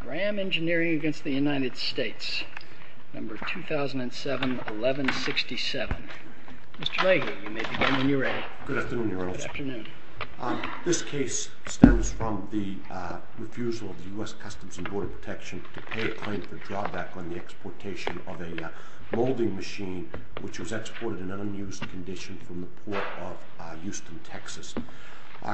Graham Engineering v. United States 2007-11-67 This case stems from the refusal of the U.S. Customs and Border Protection to pay a claim for drawback on the exportation of a molding machine which was exported in unused condition from the port of Houston, Texas.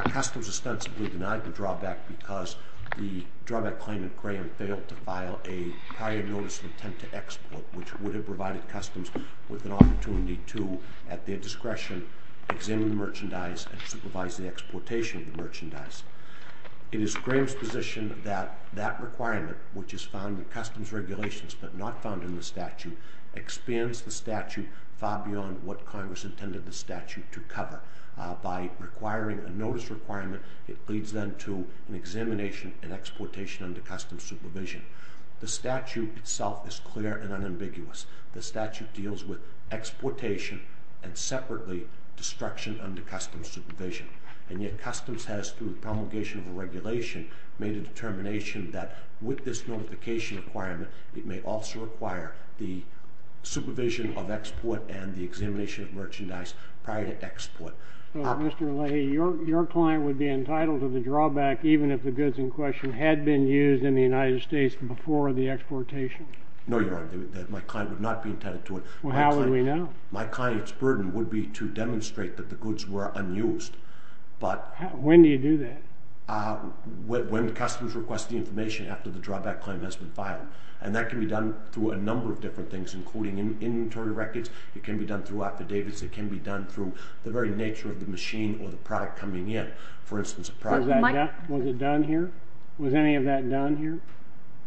Customs ostensibly denied the drawback because the drawback claimant Graham failed to file a prior notice of intent to export which would have provided Customs with an opportunity to, at their discretion, examine the merchandise and supervise the exportation of the merchandise. It is Graham's position that that requirement, which is found in Customs regulations but not found in the statute, expands the statute far beyond what Congress intended the statute to cover. By requiring a notice requirement, it leads then to an examination and exportation under Customs supervision. The statute itself is clear and unambiguous. The statute deals with exportation and, separately, destruction under Customs supervision. And yet Customs has, through the promulgation of the regulation, made a determination that, with this notification requirement, it may also require the supervision of export and the examination of merchandise prior to export. Mr. Leahy, your client would be entitled to the drawback even if the goods in question had been used in the United States before the exportation. No, Your Honor. My client would not be entitled to it. Well, how would we know? My client's burden would be to demonstrate that the goods were unused. When do you do that? When Customs requests the information after the drawback claim has been filed. And that can be done through a number of different things, including inventory records. It can be done through affidavits. It can be done through the very nature of the machine or the product coming in. Was any of that done here?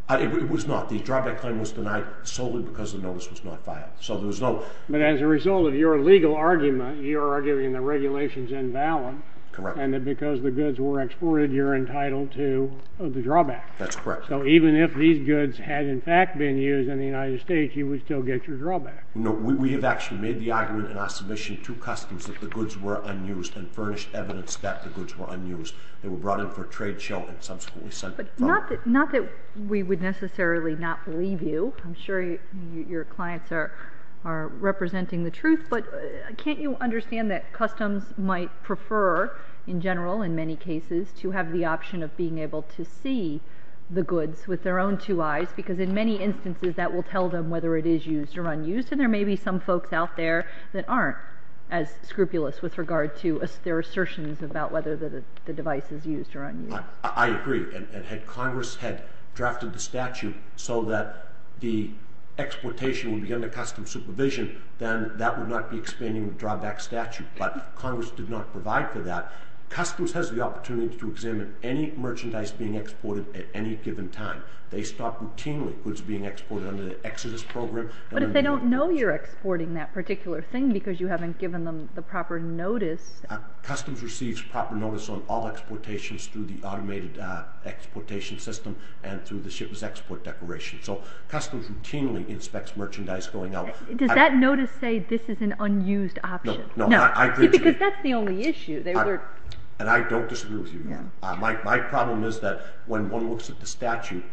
It was not. The drawback claim was denied solely because the notice was not filed. But as a result of your legal argument, you're arguing the regulation's invalid. Correct. And that because the goods were exported, you're entitled to the drawback. That's correct. So even if these goods had, in fact, been used in the United States, you would still get your drawback. No, we have actually made the argument in our submission to Customs that the goods were unused and furnished evidence that the goods were unused. They were brought in for a trade show and subsequently sent. Not that we would necessarily not believe you. I'm sure your clients are representing the truth. But can't you understand that Customs might prefer, in general, in many cases, to have the option of being able to see the goods with their own two eyes? Because in many instances, that will tell them whether it is used or unused. And there may be some folks out there that aren't as scrupulous with regard to their assertions about whether the device is used or unused. I agree. And had Congress had drafted the statute so that the exploitation would be under Customs supervision, then that would not be expanding the drawback statute. But Congress did not provide for that. Customs has the opportunity to examine any merchandise being exported at any given time. They stop routinely goods being exported under the Exodus program. But if they don't know you're exporting that particular thing because you haven't given them the proper notice. Customs receives proper notice on all exportations through the automated exportation system and through the ship's export declaration. So Customs routinely inspects merchandise going out. Does that notice say this is an unused option? No. See, because that's the only issue. And I don't disagree with you. My problem is that when one looks at the statute,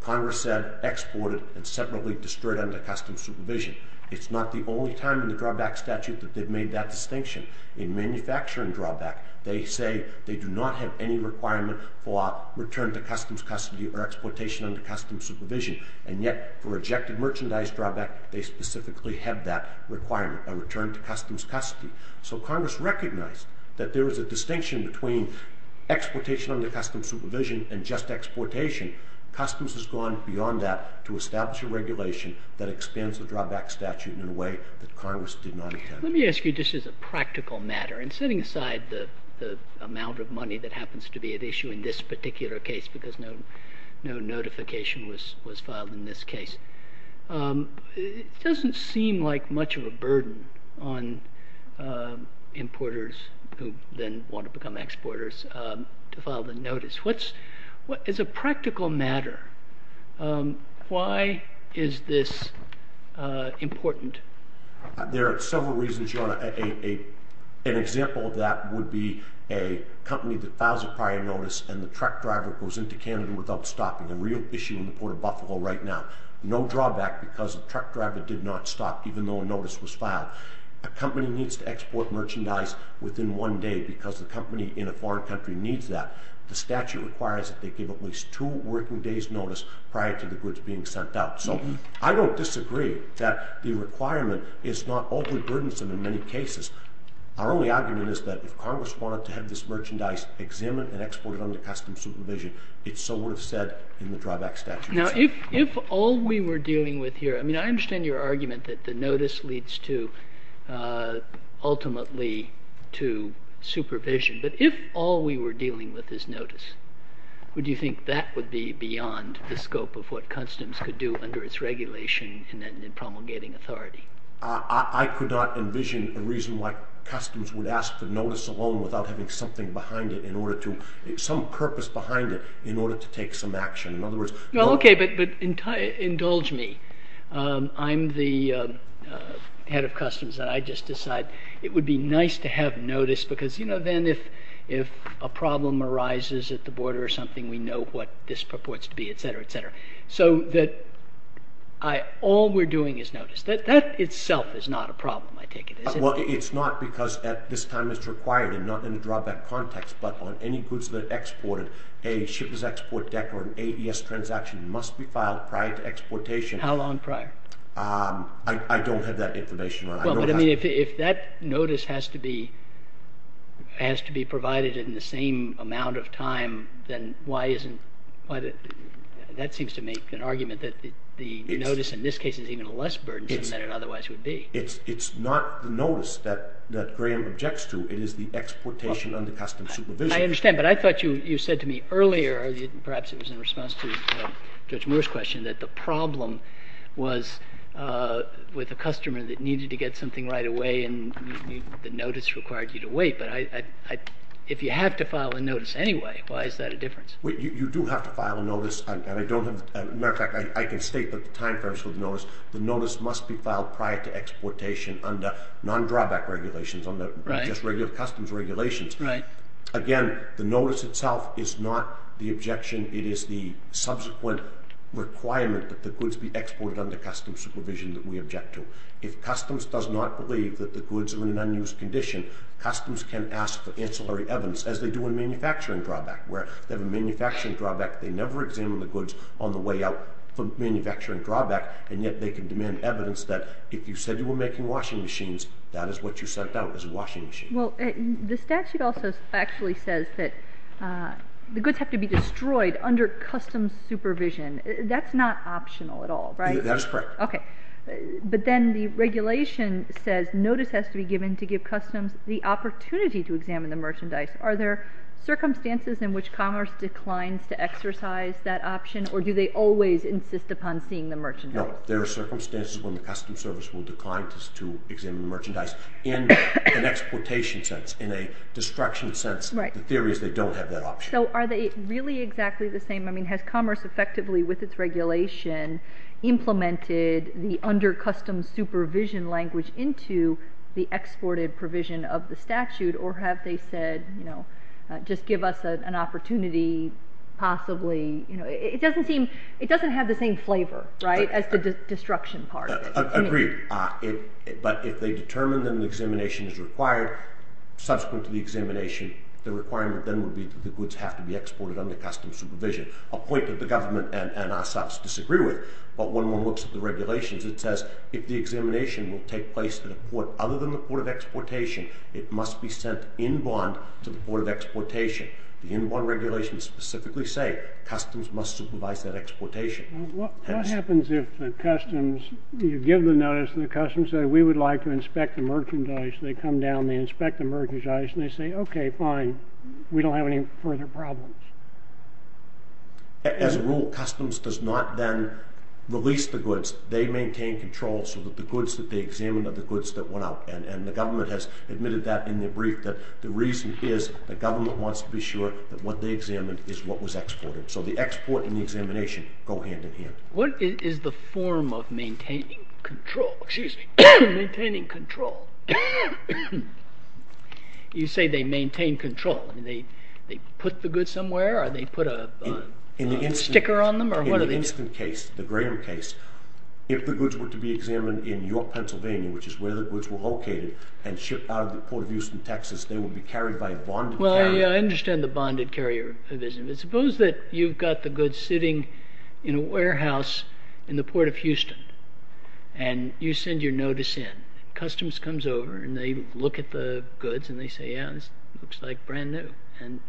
Congress said exported and separately destroyed under Customs supervision. It's not the only time in the drawback statute that they've made that distinction. In manufacturing drawback, they say they do not have any requirement for return to Customs custody or exploitation under Customs supervision. And yet for rejected merchandise drawback, they specifically have that requirement, a return to Customs custody. So Congress recognized that there is a distinction between exploitation under Customs supervision and just exportation. Customs has gone beyond that to establish a regulation that expands the drawback statute in a way that Congress did not intend. Let me ask you just as a practical matter. And setting aside the amount of money that happens to be at issue in this particular case because no notification was filed in this case, it doesn't seem like much of a burden on importers who then want to become exporters to file the notice. As a practical matter, why is this important? There are several reasons, Your Honor. An example of that would be a company that files a prior notice and the truck driver goes into Canada without stopping. A real issue in the Port of Buffalo right now. No drawback because the truck driver did not stop even though a notice was filed. A company needs to export merchandise within one day because the company in a foreign country needs that. The statute requires that they give at least two working days' notice prior to the goods being sent out. So I don't disagree that the requirement is not overly burdensome in many cases. Our only argument is that if Congress wanted to have this merchandise examined and exported under Customs supervision, it so would have said in the drawback statute. Now, if all we were dealing with here, I mean, I understand your argument that the notice leads to ultimately to supervision. But if all we were dealing with is notice, would you think that would be beyond the scope of what Customs could do under its regulation in promulgating authority? I could not envision a reason why Customs would ask for notice alone without having something behind it in order to, some purpose behind it in order to take some action. Okay, but indulge me. I'm the head of Customs and I just decide it would be nice to have notice because then if a problem arises at the border or something, we know what this purports to be, etc., etc. So that all we're doing is notice. That itself is not a problem, I take it, is it? Well, it's not because at this time it's required and not in a drawback context, but on any goods that are exported, a shippers export deck or an AES transaction must be filed prior to exportation. How long prior? I don't have that information. Well, but I mean, if that notice has to be provided in the same amount of time, then why isn't, that seems to make an argument that the notice in this case is even less burdensome than it otherwise would be. It's not the notice that Graham objects to. It is the exportation under Customs supervision. I understand, but I thought you said to me earlier, perhaps it was in response to Judge Moore's question, that the problem was with a customer that needed to get something right away and the notice required you to wait. But if you have to file a notice anyway, why is that a difference? You do have to file a notice, and I don't have, as a matter of fact, I can state that the time frames for the notice, the notice must be filed prior to exportation under non-drawback regulations, under just regular Customs regulations. Right. Again, the notice itself is not the objection. It is the subsequent requirement that the goods be exported under Customs supervision that we object to. If Customs does not believe that the goods are in an unused condition, Customs can ask for ancillary evidence, as they do in manufacturing drawback, where they have a manufacturing drawback. They never examine the goods on the way out from manufacturing drawback, and yet they can demand evidence that if you said you were making washing machines, that is what you sent out as a washing machine. Well, the statute also actually says that the goods have to be destroyed under Customs supervision. That's not optional at all, right? That is correct. Okay. But then the regulation says notice has to be given to give Customs the opportunity to examine the merchandise. Are there circumstances in which Commerce declines to exercise that option, or do they always insist upon seeing the merchandise? No. There are circumstances when the Customs Service will decline to examine the merchandise in an exportation sense, in a destruction sense. Right. The theory is they don't have that option. So are they really exactly the same? I mean, has Commerce effectively, with its regulation, implemented the under Customs supervision language into the exported provision of the statute, or have they said, you know, just give us an opportunity, possibly? It doesn't have the same flavor, right, as the destruction part. Agreed. But if they determine that an examination is required, subsequent to the examination, the requirement then would be that the goods have to be exported under Customs supervision, a point that the government and ourselves disagree with. But when one looks at the regulations, it says if the examination will take place at a port other than the port of exportation, it must be sent in bond to the port of exportation. The in bond regulations specifically say Customs must supervise that exportation. What happens if the Customs, you give the notice, and the Customs say, we would like to inspect the merchandise. They come down, they inspect the merchandise, and they say, OK, fine. We don't have any further problems. As a rule, Customs does not then release the goods. They maintain control so that the goods that they examine are the goods that went out. And the government has admitted that in their brief, that the reason is the government wants to be sure that what they examined is what was exported. So the export and the examination go hand in hand. What is the form of maintaining control? Excuse me. Maintaining control. You say they maintain control. They put the goods somewhere? Or they put a sticker on them? In the instant case, the Graham case, if the goods were to be examined in York, Pennsylvania, which is where the goods were located, and shipped out of the Port of Houston, Texas, they would be carried by bonded carrier. Well, yeah, I understand the bonded carrier. But suppose that you've got the goods sitting in a warehouse in the Port of Houston, and you send your notice in. Customs comes over, and they look at the goods, and they say, yeah, this looks like brand new. And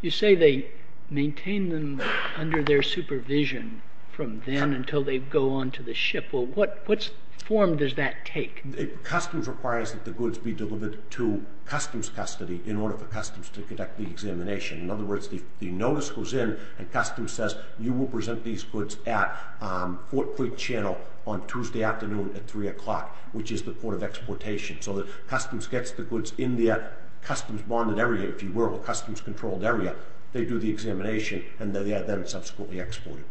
you say they maintain them under their supervision from then until they go on to the ship. Well, what form does that take? Customs requires that the goods be delivered to Customs custody in order for Customs to conduct the examination. In other words, the notice goes in, and Customs says, you will present these goods at Fort Creek Channel on Tuesday afternoon at 3 o'clock, which is the Port of Exportation. So that Customs gets the goods in that Customs-bonded area, if you will, or Customs-controlled area. They do the examination, and they have them subsequently exported.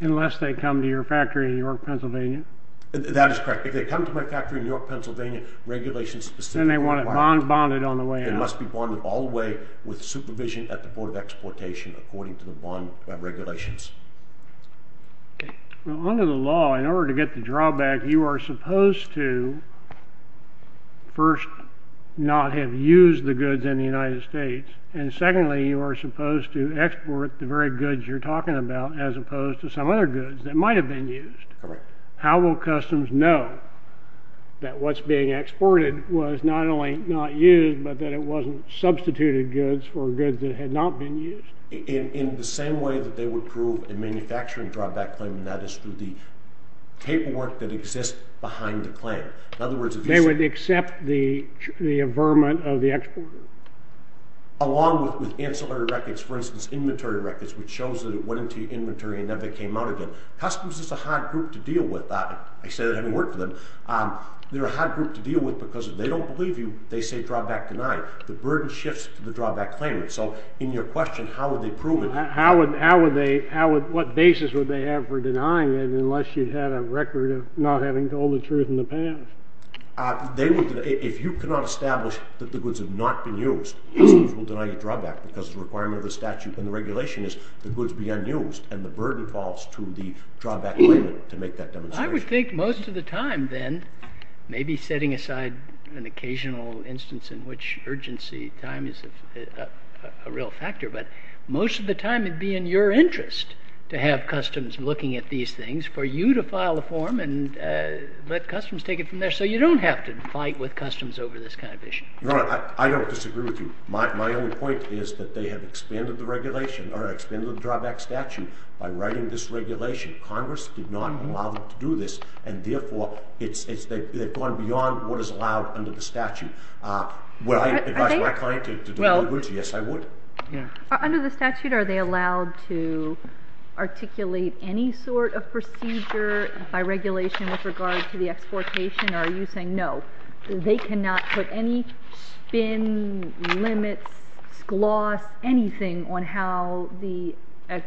Unless they come to your factory in York, Pennsylvania. That is correct. If they come to my factory in York, Pennsylvania, regulation-specific. Then they want it bonded on the way out. And it must be bonded all the way with supervision at the Port of Exportation according to the bond regulations. Okay. Well, under the law, in order to get the drawback, you are supposed to first not have used the goods in the United States. And secondly, you are supposed to export the very goods you're talking about as opposed to some other goods that might have been used. Correct. How will Customs know that what's being exported was not only not used, but that it wasn't substituted goods for goods that had not been used? In the same way that they would prove a manufacturing drawback claim, and that is through the paperwork that exists behind the claim. In other words, they would accept the averment of the exporter. Along with ancillary records, for instance, inventory records, which shows that it went into your inventory and never came out again. Customs is a hard group to deal with. I say that having worked for them. They're a hard group to deal with because if they don't believe you, they say drawback denied. The burden shifts to the drawback claimant. So in your question, how would they prove it? What basis would they have for denying it unless you had a record of not having told the truth in the past? If you cannot establish that the goods have not been used, Customs will deny you a drawback because the requirement of the statute and the regulation is the goods be unused. And the burden falls to the drawback claimant to make that demonstration. I would think most of the time then, maybe setting aside an occasional instance in which urgency time is a real factor, but most of the time it would be in your interest to have Customs looking at these things for you to file a form and let Customs take it from there. So you don't have to fight with Customs over this kind of issue. Your Honor, I don't disagree with you. My only point is that they have expanded the regulation or expanded the drawback statute by writing this regulation. Congress did not allow them to do this, and therefore they've gone beyond what is allowed under the statute. Would I advise my client to do the same? Yes, I would. Under the statute, are they allowed to articulate any sort of procedure by regulation with regard to the exportation? Or are you saying no, they cannot put any spin, limits, gloss, anything on how the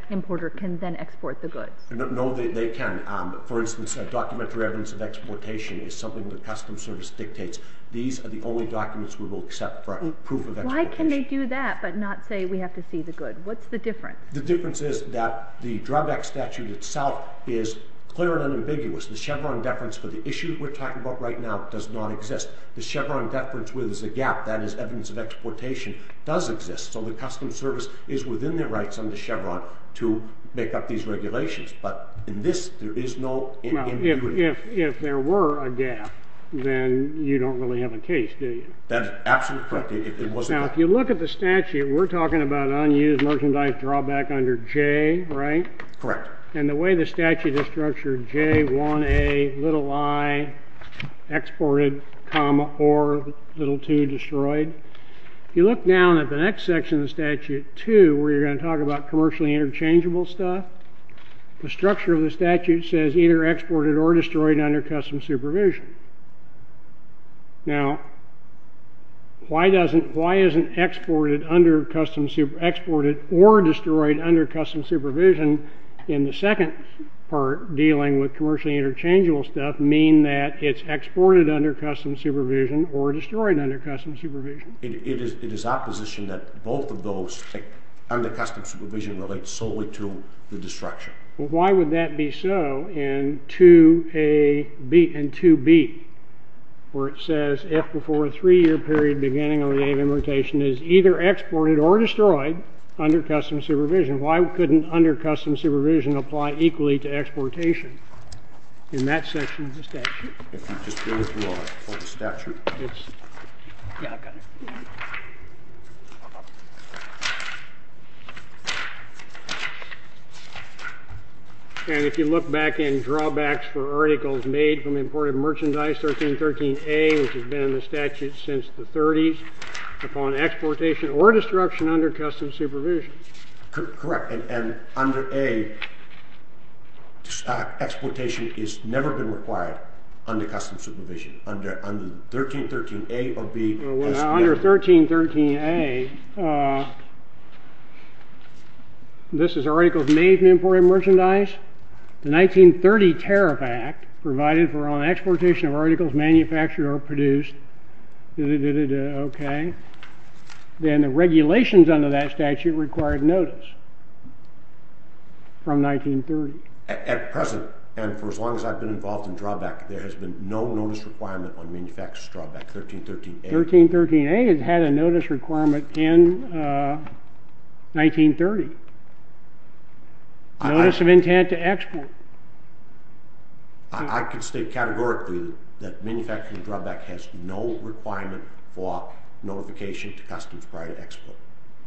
importer can then export the goods? No, they can. For instance, documentary evidence of exportation is something that Customs Service dictates. These are the only documents we will accept for proof of exportation. Why can they do that but not say we have to see the goods? What's the difference? The difference is that the drawback statute itself is clear and unambiguous. The Chevron deference for the issue we're talking about right now does not exist. The Chevron deference where there's a gap, that is evidence of exportation, does exist. So the Customs Service is within their rights under Chevron to make up these regulations. But in this, there is no in between. If there were a gap, then you don't really have a case, do you? That is absolutely correct. Now, if you look at the statute, we're talking about unused merchandise drawback under J, right? Correct. And the way the statute is structured, J, 1A, little i, exported, comma, or little 2, destroyed. If you look down at the next section of the statute, 2, where you're going to talk about commercially interchangeable stuff, the structure of the statute says either exported or destroyed under Customs supervision. Now, why isn't exported or destroyed under Customs supervision in the second part dealing with commercially interchangeable stuff mean that it's exported under Customs supervision or destroyed under Customs supervision? It is our position that both of those, under Customs supervision, relate solely to the destruction. Well, why would that be so in 2A and 2B, where it says, if before a three-year period beginning on the day of importation is either exported or destroyed under Customs supervision, why couldn't under Customs supervision apply equally to exportation in that section of the statute? If you just go through the statute. And if you look back in drawbacks for articles made from imported merchandise, 1313A, which has been in the statute since the 30s, upon exportation or destruction under Customs supervision. Correct. And under A, exportation has never been required under Customs supervision. Under 1313A or B. Under 1313A, this is articles made from imported merchandise. The 1930 Tariff Act provided for an exportation of articles manufactured or produced. Okay. Then the regulations under that statute required notice from 1930. At present, and for as long as I've been involved in drawbacks, there has been no notice requirement on manufacturers' drawbacks, 1313A. 1313A had a notice requirement in 1930. Notice of intent to export. I can state categorically that manufacturing drawback has no requirement for notification to Customs prior to export.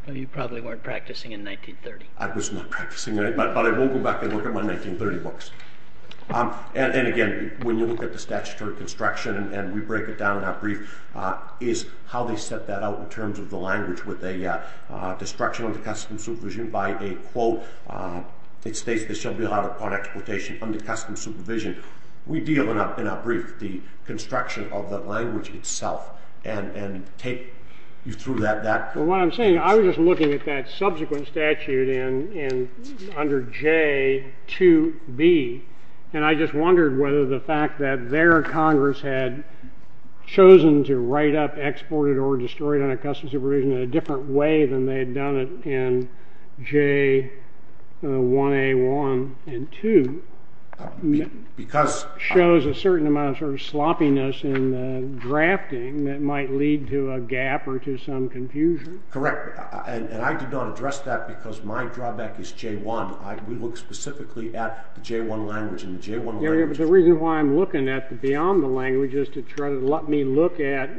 Well, you probably weren't practicing in 1930. I was not practicing, but I will go back and look at my 1930 books. And again, when you look at the statutory construction, and we break it down in our brief, is how they set that out in terms of the language with a destruction under Customs supervision by a quote. It states this shall be allowed upon exportation under Customs supervision. We deal in our brief with the construction of the language itself and take you through that. Well, what I'm saying, I was just looking at that subsequent statute under J2B, and I just wondered whether the fact that their Congress had chosen to write up exported or destroyed under Customs supervision in a different way than they had done it in J1A1 and 2 shows a certain amount of sort of sloppiness in the drafting that might lead to a gap or to some confusion. Correct. And I did not address that because my drawback is J1. We look specifically at the J1 language and the J1 language. But the reason why I'm looking at it beyond the language is to try to let me look at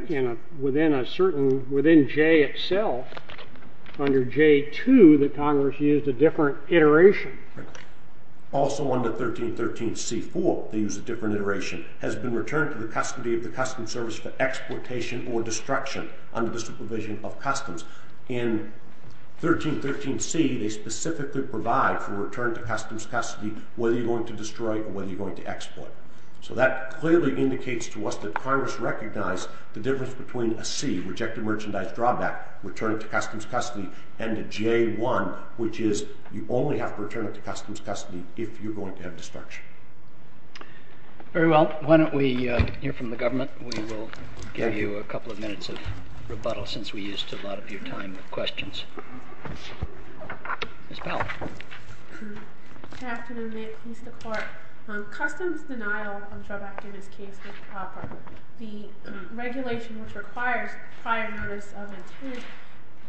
within J itself, under J2, that Congress used a different iteration. Also under 1313C4, they used a different iteration. Has been returned to the custody of the Customs Service for exploitation or destruction under the supervision of Customs. In 1313C, they specifically provide for return to Customs custody whether you're going to destroy or whether you're going to exploit. So that clearly indicates to us that Congress recognized the difference between a C, rejected merchandise drawback, returning to Customs custody, and a J1, which is you only have to return it to Customs custody if you're going to have destruction. Very well. Why don't we hear from the government? We will give you a couple of minutes of rebuttal since we used a lot of your time with questions. Ms. Powell. Good afternoon. May it please the Court. Customs denial drawback in this case is proper. The regulation which requires prior notice of intent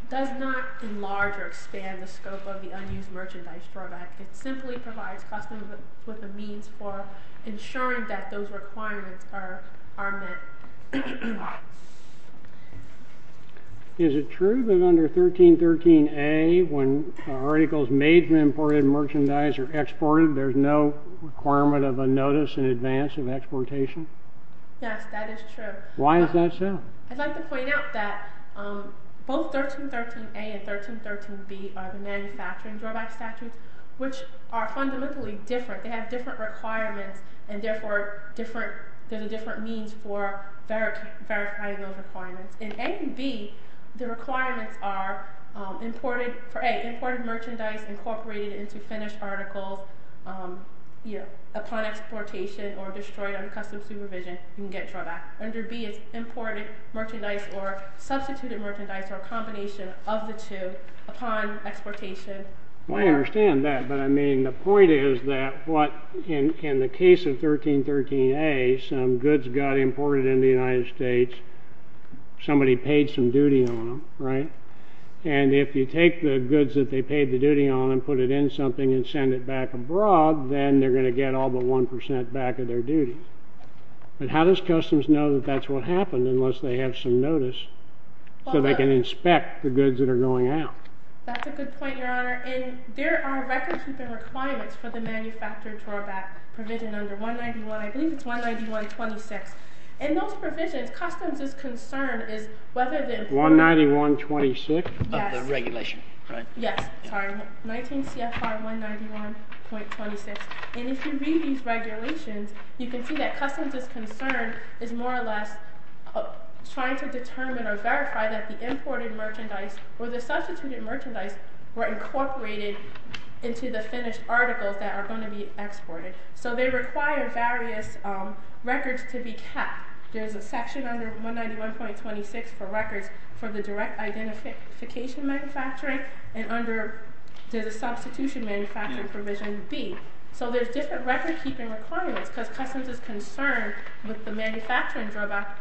does not enlarge or expand the scope of the unused merchandise drawback. It simply provides Customs with a means for ensuring that those requirements are met. Is it true that under 1313A, when articles made from imported merchandise are exported, there's no requirement of a notice in advance of exportation? Yes, that is true. Why is that so? I'd like to point out that both 1313A and 1313B are the manufacturing drawback statutes, which are fundamentally different. They have different requirements, and therefore there's a different means for verifying those requirements. In A and B, the requirements are for A, imported merchandise incorporated into finished articles upon exportation or destroyed under Customs supervision, you can get a drawback. Under B, it's imported merchandise or substituted merchandise or a combination of the two upon exportation. I understand that, but I mean, the point is that what in the case of 1313A, some goods got imported into the United States, somebody paid some duty on them, right? And if you take the goods that they paid the duty on and put it in something and send it back abroad, then they're going to get all but 1% back of their duty. But how does Customs know that that's what happened unless they have some notice so they can inspect the goods that are going out? That's a good point, Your Honor. And there are record-keeping requirements for the manufacturing drawback provision under 191, I believe it's 191.26. In those provisions, Customs' concern is whether the importer... 191.26? Yes. Of the regulation, right? Yes. 19 CFR 191.26. And if you read these regulations, you can see that Customs' concern is more or less trying to determine or verify that the imported merchandise or the substituted merchandise were incorporated into the finished articles that are going to be exported. So they require various records to be kept. There's a section under 191.26 for records for the direct identification manufacturing and under the substitution manufacturing provision B. So there's different record-keeping requirements because Customs' concern with the manufacturing drawback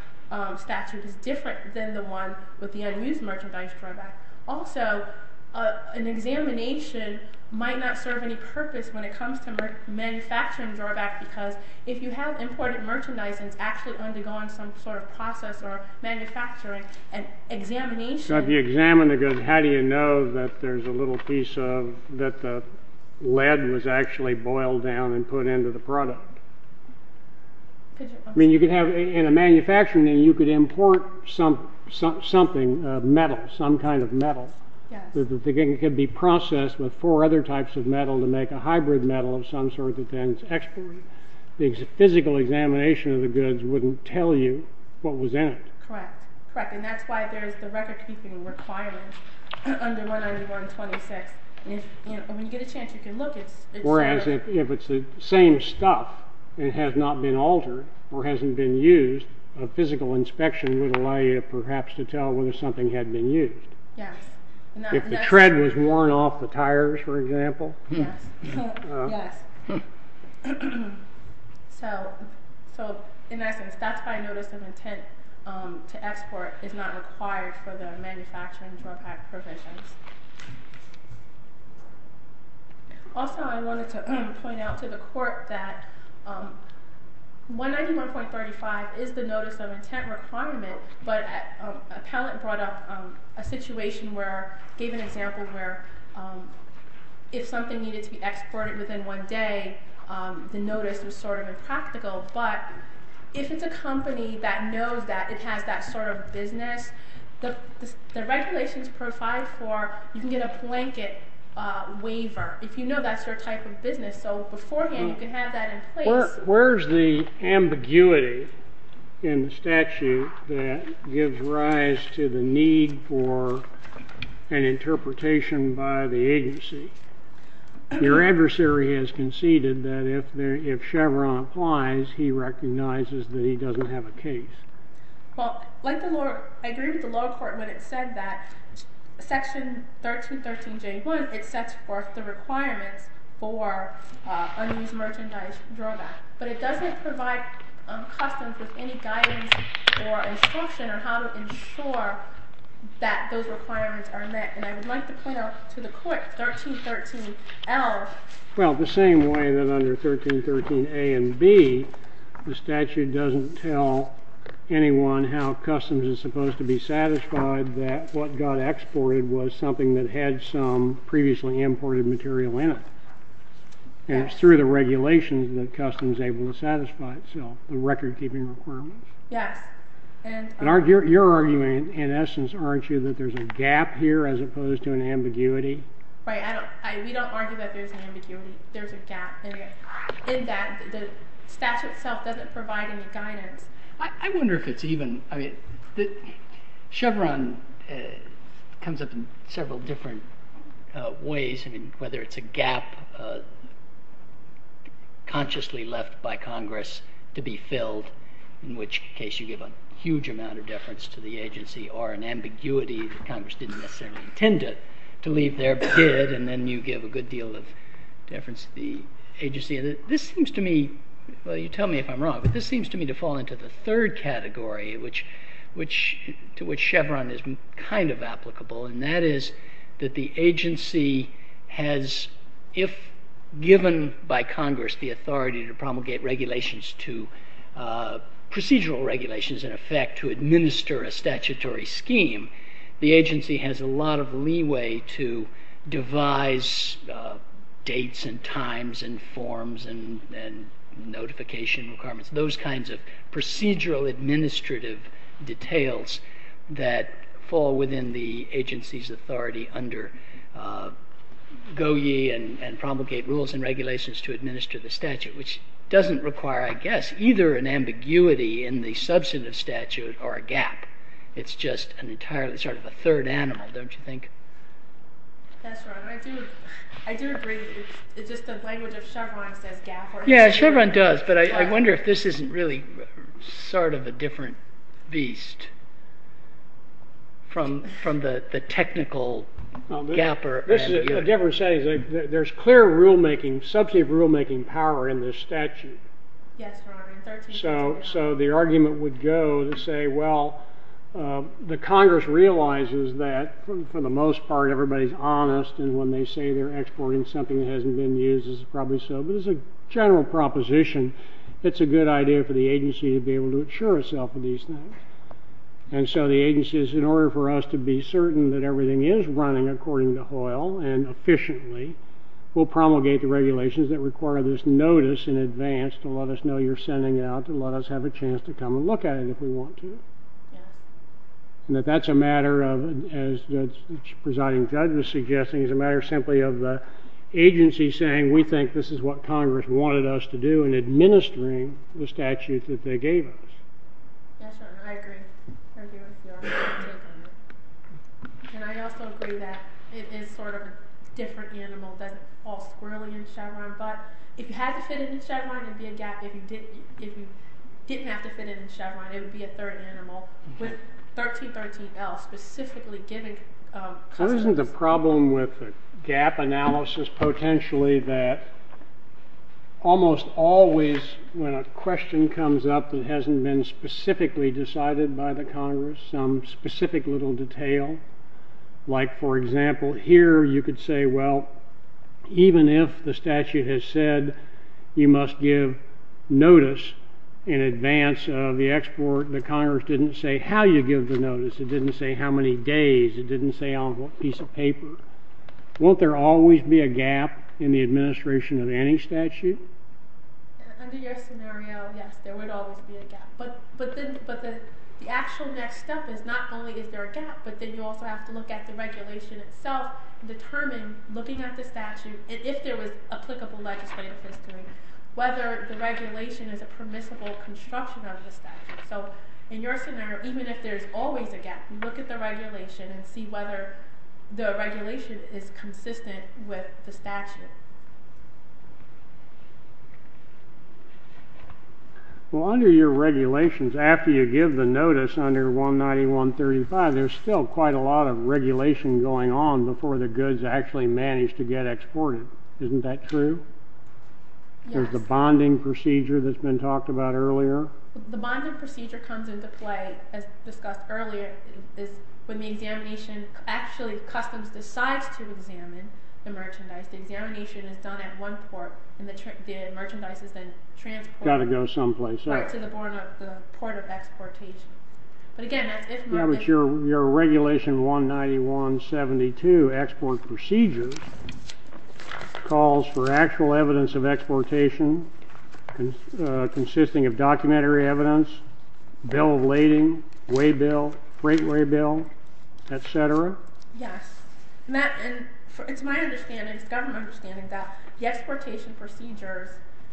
statute is different than the one with the unused merchandise drawback. Also, an examination might not serve any purpose when it comes to manufacturing drawback because if you have imported merchandise and it's actually undergone some sort of process or manufacturing, an examination... So if you examine the goods, how do you know that there's a little piece of... that the lead was actually boiled down and put into the product? I mean, you could have, in a manufacturing, you could import something, metal, some kind of metal. It could be processed with four other types of metal to make a hybrid metal of some sort that then is exported. The physical examination of the goods wouldn't tell you what was in it. Correct. Correct, and that's why there's the record-keeping requirement under 191.26. When you get a chance, you can look. Whereas if it's the same stuff and it has not been altered or hasn't been used, a physical inspection would allow you perhaps to tell whether something had been used. Yes. If the tread was worn off the tires, for example. Yes. So in essence, that's why notice of intent to export is not required for the manufacturing drawback provisions. Also, I wanted to point out to the court that 191.35 is the notice of intent requirement, but Appellant brought up a situation where, gave an example where if something needed to be exported within one day, the notice was sort of impractical. But if it's a company that knows that it has that sort of business, the regulations provide for, you can get a blanket waiver if you know that's your type of business. So beforehand, you can have that in place. Where is the ambiguity in the statute that gives rise to the need for an interpretation by the agency? Your adversary has conceded that if Chevron applies, he recognizes that he doesn't have a case. Well, I agree with the lower court when it said that Section 1313J1, it sets forth the requirements for unused merchandise drawback. But it doesn't provide Customs with any guidance or instruction on how to ensure that those requirements are met. And I would like to point out to the court 1313L. Well, the same way that under 1313A and B, the statute doesn't tell anyone how Customs is supposed to be satisfied that what got exported was something that had some previously imported material in it. And it's through the regulations that Customs is able to satisfy itself, the record-keeping requirements. Yes. You're arguing, in essence, aren't you, that there's a gap here as opposed to an ambiguity? Right. We don't argue that there's an ambiguity. There's a gap. In that, the statute itself doesn't provide any guidance. I wonder if it's even—I mean, Chevron comes up in several different ways, whether it's a gap consciously left by Congress to be filled, in which case you give a huge amount of deference to the agency, or an ambiguity that Congress didn't necessarily intend to leave there, but did, and then you give a good deal of deference to the agency. This seems to me—well, you tell me if I'm wrong, but this seems to me to fall into the third category to which Chevron is kind of applicable, and that is that the agency has, if given by Congress the authority to promulgate regulations, procedural regulations, in effect, to administer a statutory scheme, the agency has a lot of leeway to devise dates and times and forms and notification requirements. Those kinds of procedural administrative details that fall within the agency's authority under Goyi and promulgate rules and regulations to administer the statute, which doesn't require, I guess, either an ambiguity in the substantive statute or a gap. It's just an entirely sort of a third animal, don't you think? That's right. I do agree. It's just the language of Chevron says gap. Yeah, Chevron does, but I wonder if this isn't really sort of a different beast from the technical gap or ambiguity. This is a different setting. There's clear substantive rulemaking power in this statute. Yes, Your Honor. So the argument would go to say, well, the Congress realizes that, for the most part, everybody's honest, and when they say they're exporting something that hasn't been used, it's probably so, but as a general proposition, it's a good idea for the agency to be able to insure itself of these things. And so the agency is, in order for us to be certain that everything is running according to Hoyle and efficiently, will promulgate the regulations that require this notice in advance to let us know you're sending it out to let us have a chance to come and look at it if we want to. And that that's a matter of, as the presiding judge was suggesting, it's a matter simply of the agency saying we think this is what Congress wanted us to do and administering the statute that they gave us. Yes, Your Honor, I agree. And I also agree that it is sort of a different animal than all squirrely in Chevron, but if you had to fit it in Chevron, it would be a gap. If you didn't have to fit it in Chevron, it would be a third animal. With 1313L specifically giving consequences. Isn't the problem with the gap analysis potentially that almost always when a question comes up that hasn't been specifically decided by the Congress, some specific little detail, like, for example, here you could say, well, even if the statute has said you must give notice in advance of the export, the Congress didn't say how you give the notice, it didn't say how many days, it didn't say on what piece of paper. Won't there always be a gap in the administration of any statute? Under your scenario, yes, there would always be a gap. But the actual next step is not only is there a gap, but then you also have to look at the regulation itself and determine, looking at the statute, and if there was applicable legislative history, whether the regulation is a permissible construction of the statute. So in your scenario, even if there's always a gap, you look at the regulation and see whether the regulation is consistent with the statute. Well, under your regulations, after you give the notice under 19135, there's still quite a lot of regulation going on before the goods actually manage to get exported. Isn't that true? Yes. There's the bonding procedure that's been talked about earlier. The bonding procedure comes into play, as discussed earlier, when the examination, actually, the customs decides to examine the merchandise. The examination is done at one port, and the merchandise is then transported to the port of exportation. But again, that's if— Yeah, but your regulation 19172, Export Procedure, calls for actual evidence of exportation consisting of documentary evidence, bill of lading, weigh bill, freight weigh bill, et cetera. Yes. And it's my understanding, it's government understanding, that the exportation procedures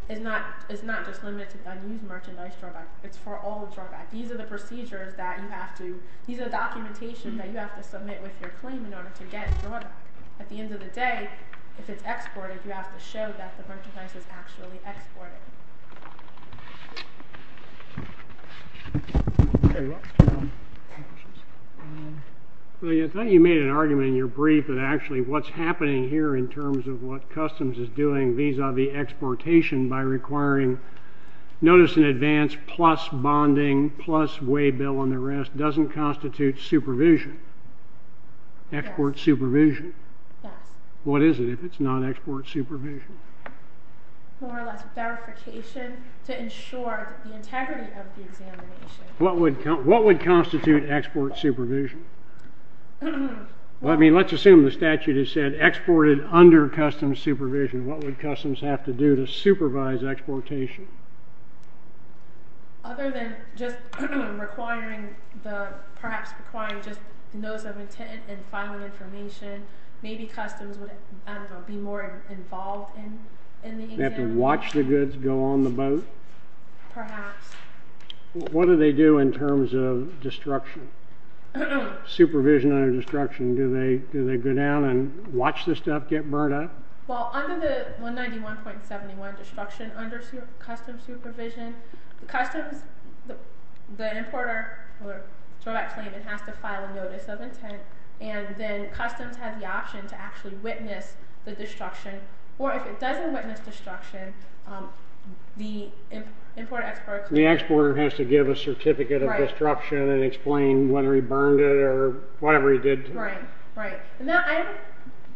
is not just limited to unused merchandise drawbacks. It's for all drawbacks. These are the procedures that you have to— Today, if it's exported, you have to show that the merchandise is actually exported. I thought you made an argument in your brief that actually what's happening here in terms of what customs is doing vis-a-vis exportation by requiring notice in advance, plus bonding, plus weigh bill, and the rest, doesn't constitute supervision. Export supervision. Yes. What is it if it's not export supervision? More or less verification to ensure the integrity of the examination. What would constitute export supervision? Well, I mean, let's assume the statute has said exported under customs supervision. What would customs have to do to supervise exportation? Other than just perhaps requiring just notice of intent and filing information, maybe customs would, I don't know, be more involved in the exam? They have to watch the goods go on the boat? Perhaps. What do they do in terms of destruction? Supervision under destruction. Do they go down and watch the stuff get burnt up? Well, under the 191.71, destruction under customs supervision, customs, the importer has to file a notice of intent, and then customs have the option to actually witness the destruction. Or if it doesn't witness destruction, the importer has to give a certificate of destruction and explain whether he burned it or whatever he did to it.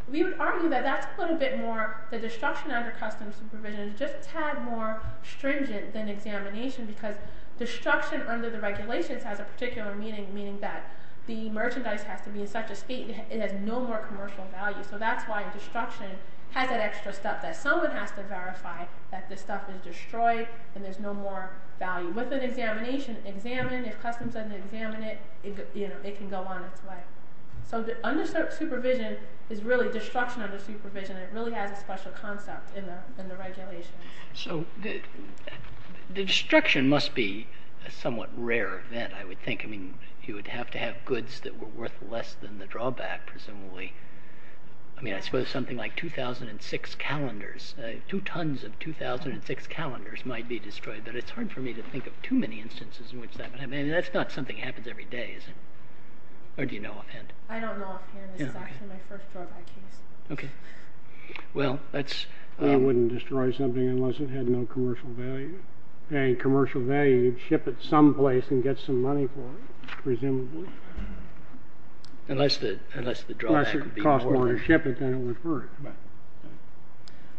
We would argue that that's a little bit more, the destruction under customs supervision is just a tad more stringent than examination because destruction under the regulations has a particular meaning, meaning that the merchandise has to be in such a state that it has no more commercial value. So that's why destruction has that extra step that someone has to verify that this stuff is destroyed and there's no more value. With an examination, examine. If customs doesn't examine it, it can go on its way. So under supervision is really destruction under supervision. It really has a special concept in the regulations. So the destruction must be a somewhat rare event, I would think. I mean, you would have to have goods that were worth less than the drawback, presumably. I mean, I suppose something like 2,006 calendars, two tons of 2,006 calendars might be destroyed, but it's hard for me to think of too many instances in which that would happen. I mean, that's not something that happens every day, is it? Or do you know offhand? I don't know offhand. This is actually my first drawback case. Okay. Well, that's... It wouldn't destroy something unless it had no commercial value. And commercial value, you'd ship it someplace and get some money for it, presumably. Unless the drawback would be more... Unless it would cost more to ship it than it would worth.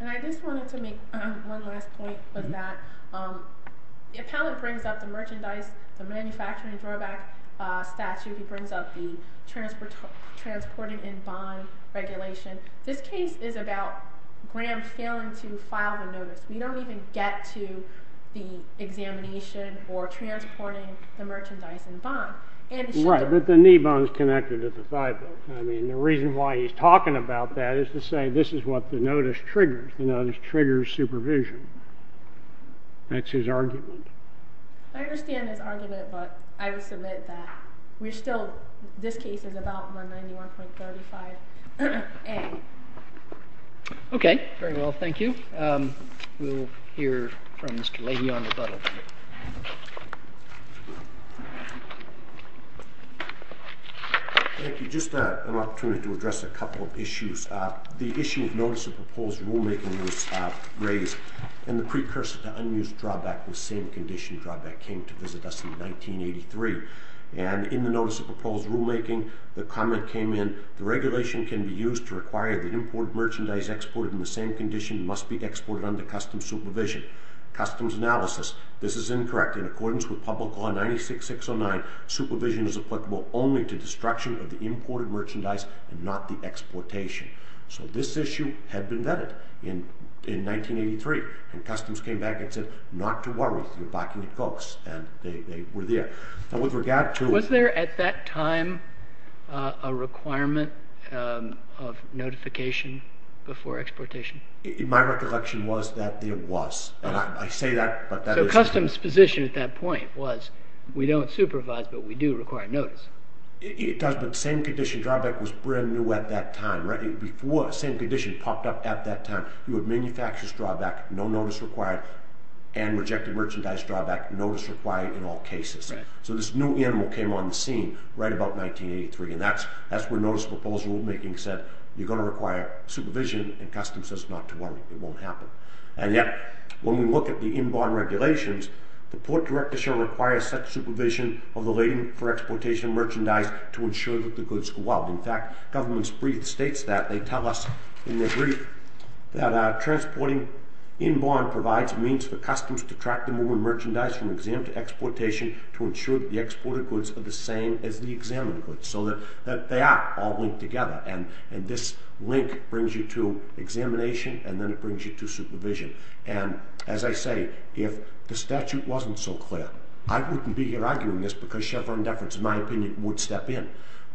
And I just wanted to make one last point with that. The appellant brings up the merchandise, the manufacturing drawback statute. He brings up the transporting in bond regulation. This case is about Graham failing to file the notice. We don't even get to the examination or transporting the merchandise in bond. Right, but the knee bond is connected to the thigh bone. I mean, the reason why he's talking about that is to say this is what the notice triggers. The notice triggers supervision. That's his argument. I understand his argument, but I would submit that we're still... This case is about 191.35A. Okay, very well. Thank you. We'll hear from Mr. Leahy on rebuttal. Thank you. Just an opportunity to address a couple of issues. The issue of notice of proposed rulemaking was raised. And the precursor to unused drawback was same condition drawback came to visit us in 1983. And in the notice of proposed rulemaking, the comment came in, the regulation can be used to require the imported merchandise exported in the same condition must be exported under customs supervision. Customs analysis. This is incorrect. In accordance with Public Law 96609, supervision is applicable only to destruction of the imported merchandise and not the exportation. So this issue had been vetted in 1983. And customs came back and said not to worry. You're backing the folks. And they were there. Now, with regard to... Was there at that time a requirement of notification before exportation? My recollection was that there was. And I say that, but that is... So customs' position at that point was we don't supervise, but we do require notice. It does, but the same condition drawback was brand new at that time. Before the same condition popped up at that time, you had manufacturer's drawback, no notice required, and rejected merchandise drawback, notice required in all cases. So this new animal came on the scene right about 1983. And that's where notice of proposed rulemaking said you're going to require supervision, and customs says not to worry. It won't happen. And yet, when we look at the inborn regulations, the port director shall require such supervision of the lading for exportation of merchandise to ensure that the goods go out. In fact, government's brief states that. They tell us in their brief that transporting inborn provides means for customs to track the moving merchandise from exam to exportation to ensure that the exported goods are the same as the examined goods, so that they are all linked together. And as I say, if the statute wasn't so clear, I wouldn't be here arguing this because Chevron and Deference, in my opinion, would step in.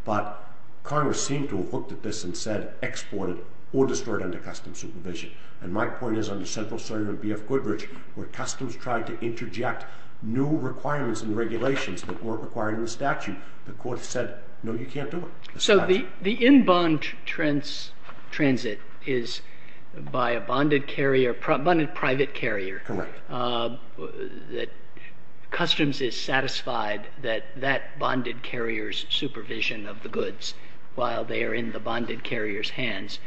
But Congress seemed to have looked at this and said, export it or destroy it under customs supervision. And my point is, under Central Sergeant B.F. Goodrich, where customs tried to interject new requirements and regulations that weren't required in the statute, the court said, no, you can't do it. So the inborn transit is by a bonded carrier, bonded private carrier. Correct. That customs is satisfied that that bonded carrier's supervision of the goods, while they are in the bonded carrier's hands,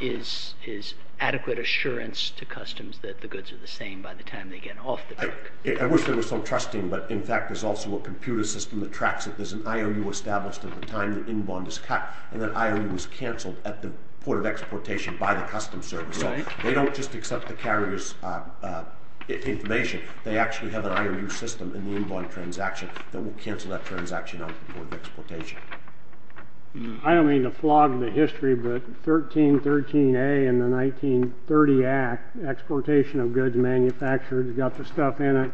is adequate assurance to customs that the goods are the same by the time they get off the dock. I wish there was some trusting, but in fact there's also a computer system that tracks that there's an IOU established at the time the inbond is cut, and that IOU was canceled at the port of exportation by the customs service. So they don't just accept the carrier's information. They actually have an IOU system in the inbond transaction that will cancel that transaction off the port of exportation. I don't mean to flog the history, but 1313A in the 1930 Act, exportation of goods manufactured, it's got the stuff in it.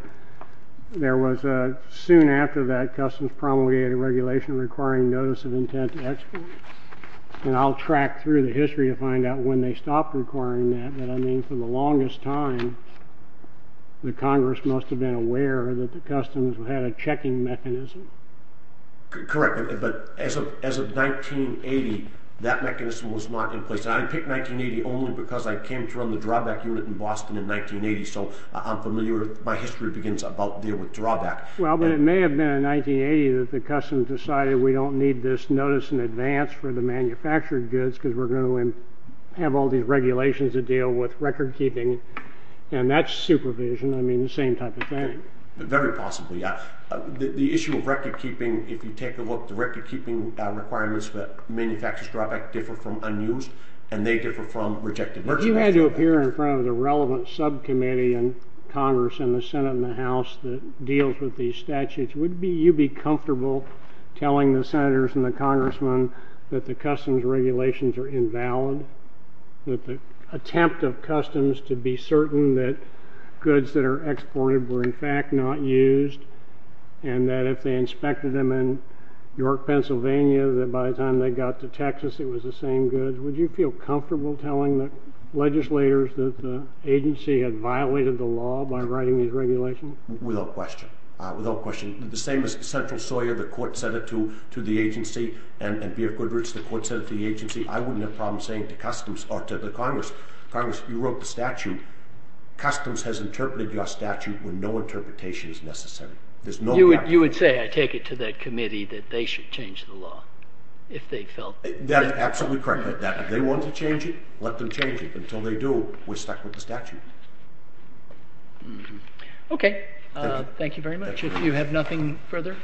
Soon after that, customs promulgated regulation requiring notice of intent to export, and I'll track through the history to find out when they stopped requiring that, but I mean for the longest time the Congress must have been aware that the customs had a checking mechanism. Correct, but as of 1980, that mechanism was not in place. I picked 1980 only because I came to run the drawback unit in Boston in 1980, so I'm familiar with my history begins about dealing with drawback. Well, but it may have been in 1980 that the customs decided we don't need this notice in advance for the manufactured goods because we're going to have all these regulations to deal with recordkeeping, and that's supervision. I mean the same type of thing. Very possibly, yeah. The issue of recordkeeping, if you take a look, the recordkeeping requirements that manufacturers drawback differ from unused, and they differ from rejected. If you had to appear in front of the relevant subcommittee in Congress and the Senate and the House that deals with these statutes, would you be comfortable telling the Senators and the Congressmen that the customs regulations are invalid, that the attempt of customs to be certain that goods that are exported were in fact not used, and that if they inspected them in York, Pennsylvania, that by the time they got to Texas it was the same goods, would you feel comfortable telling the legislators that the agency had violated the law by writing these regulations? Without question. Without question. The same as Central Sawyer, the court sent it to the agency, and BF Goodrich, the court sent it to the agency, I wouldn't have a problem saying to customs or to the Congress, Congress, you wrote the statute. Customs has interpreted your statute when no interpretation is necessary. That is absolutely correct. If they want to change it, let them change it. Until they do, we're stuck with the statute. Okay. Thank you very much. If you have nothing further...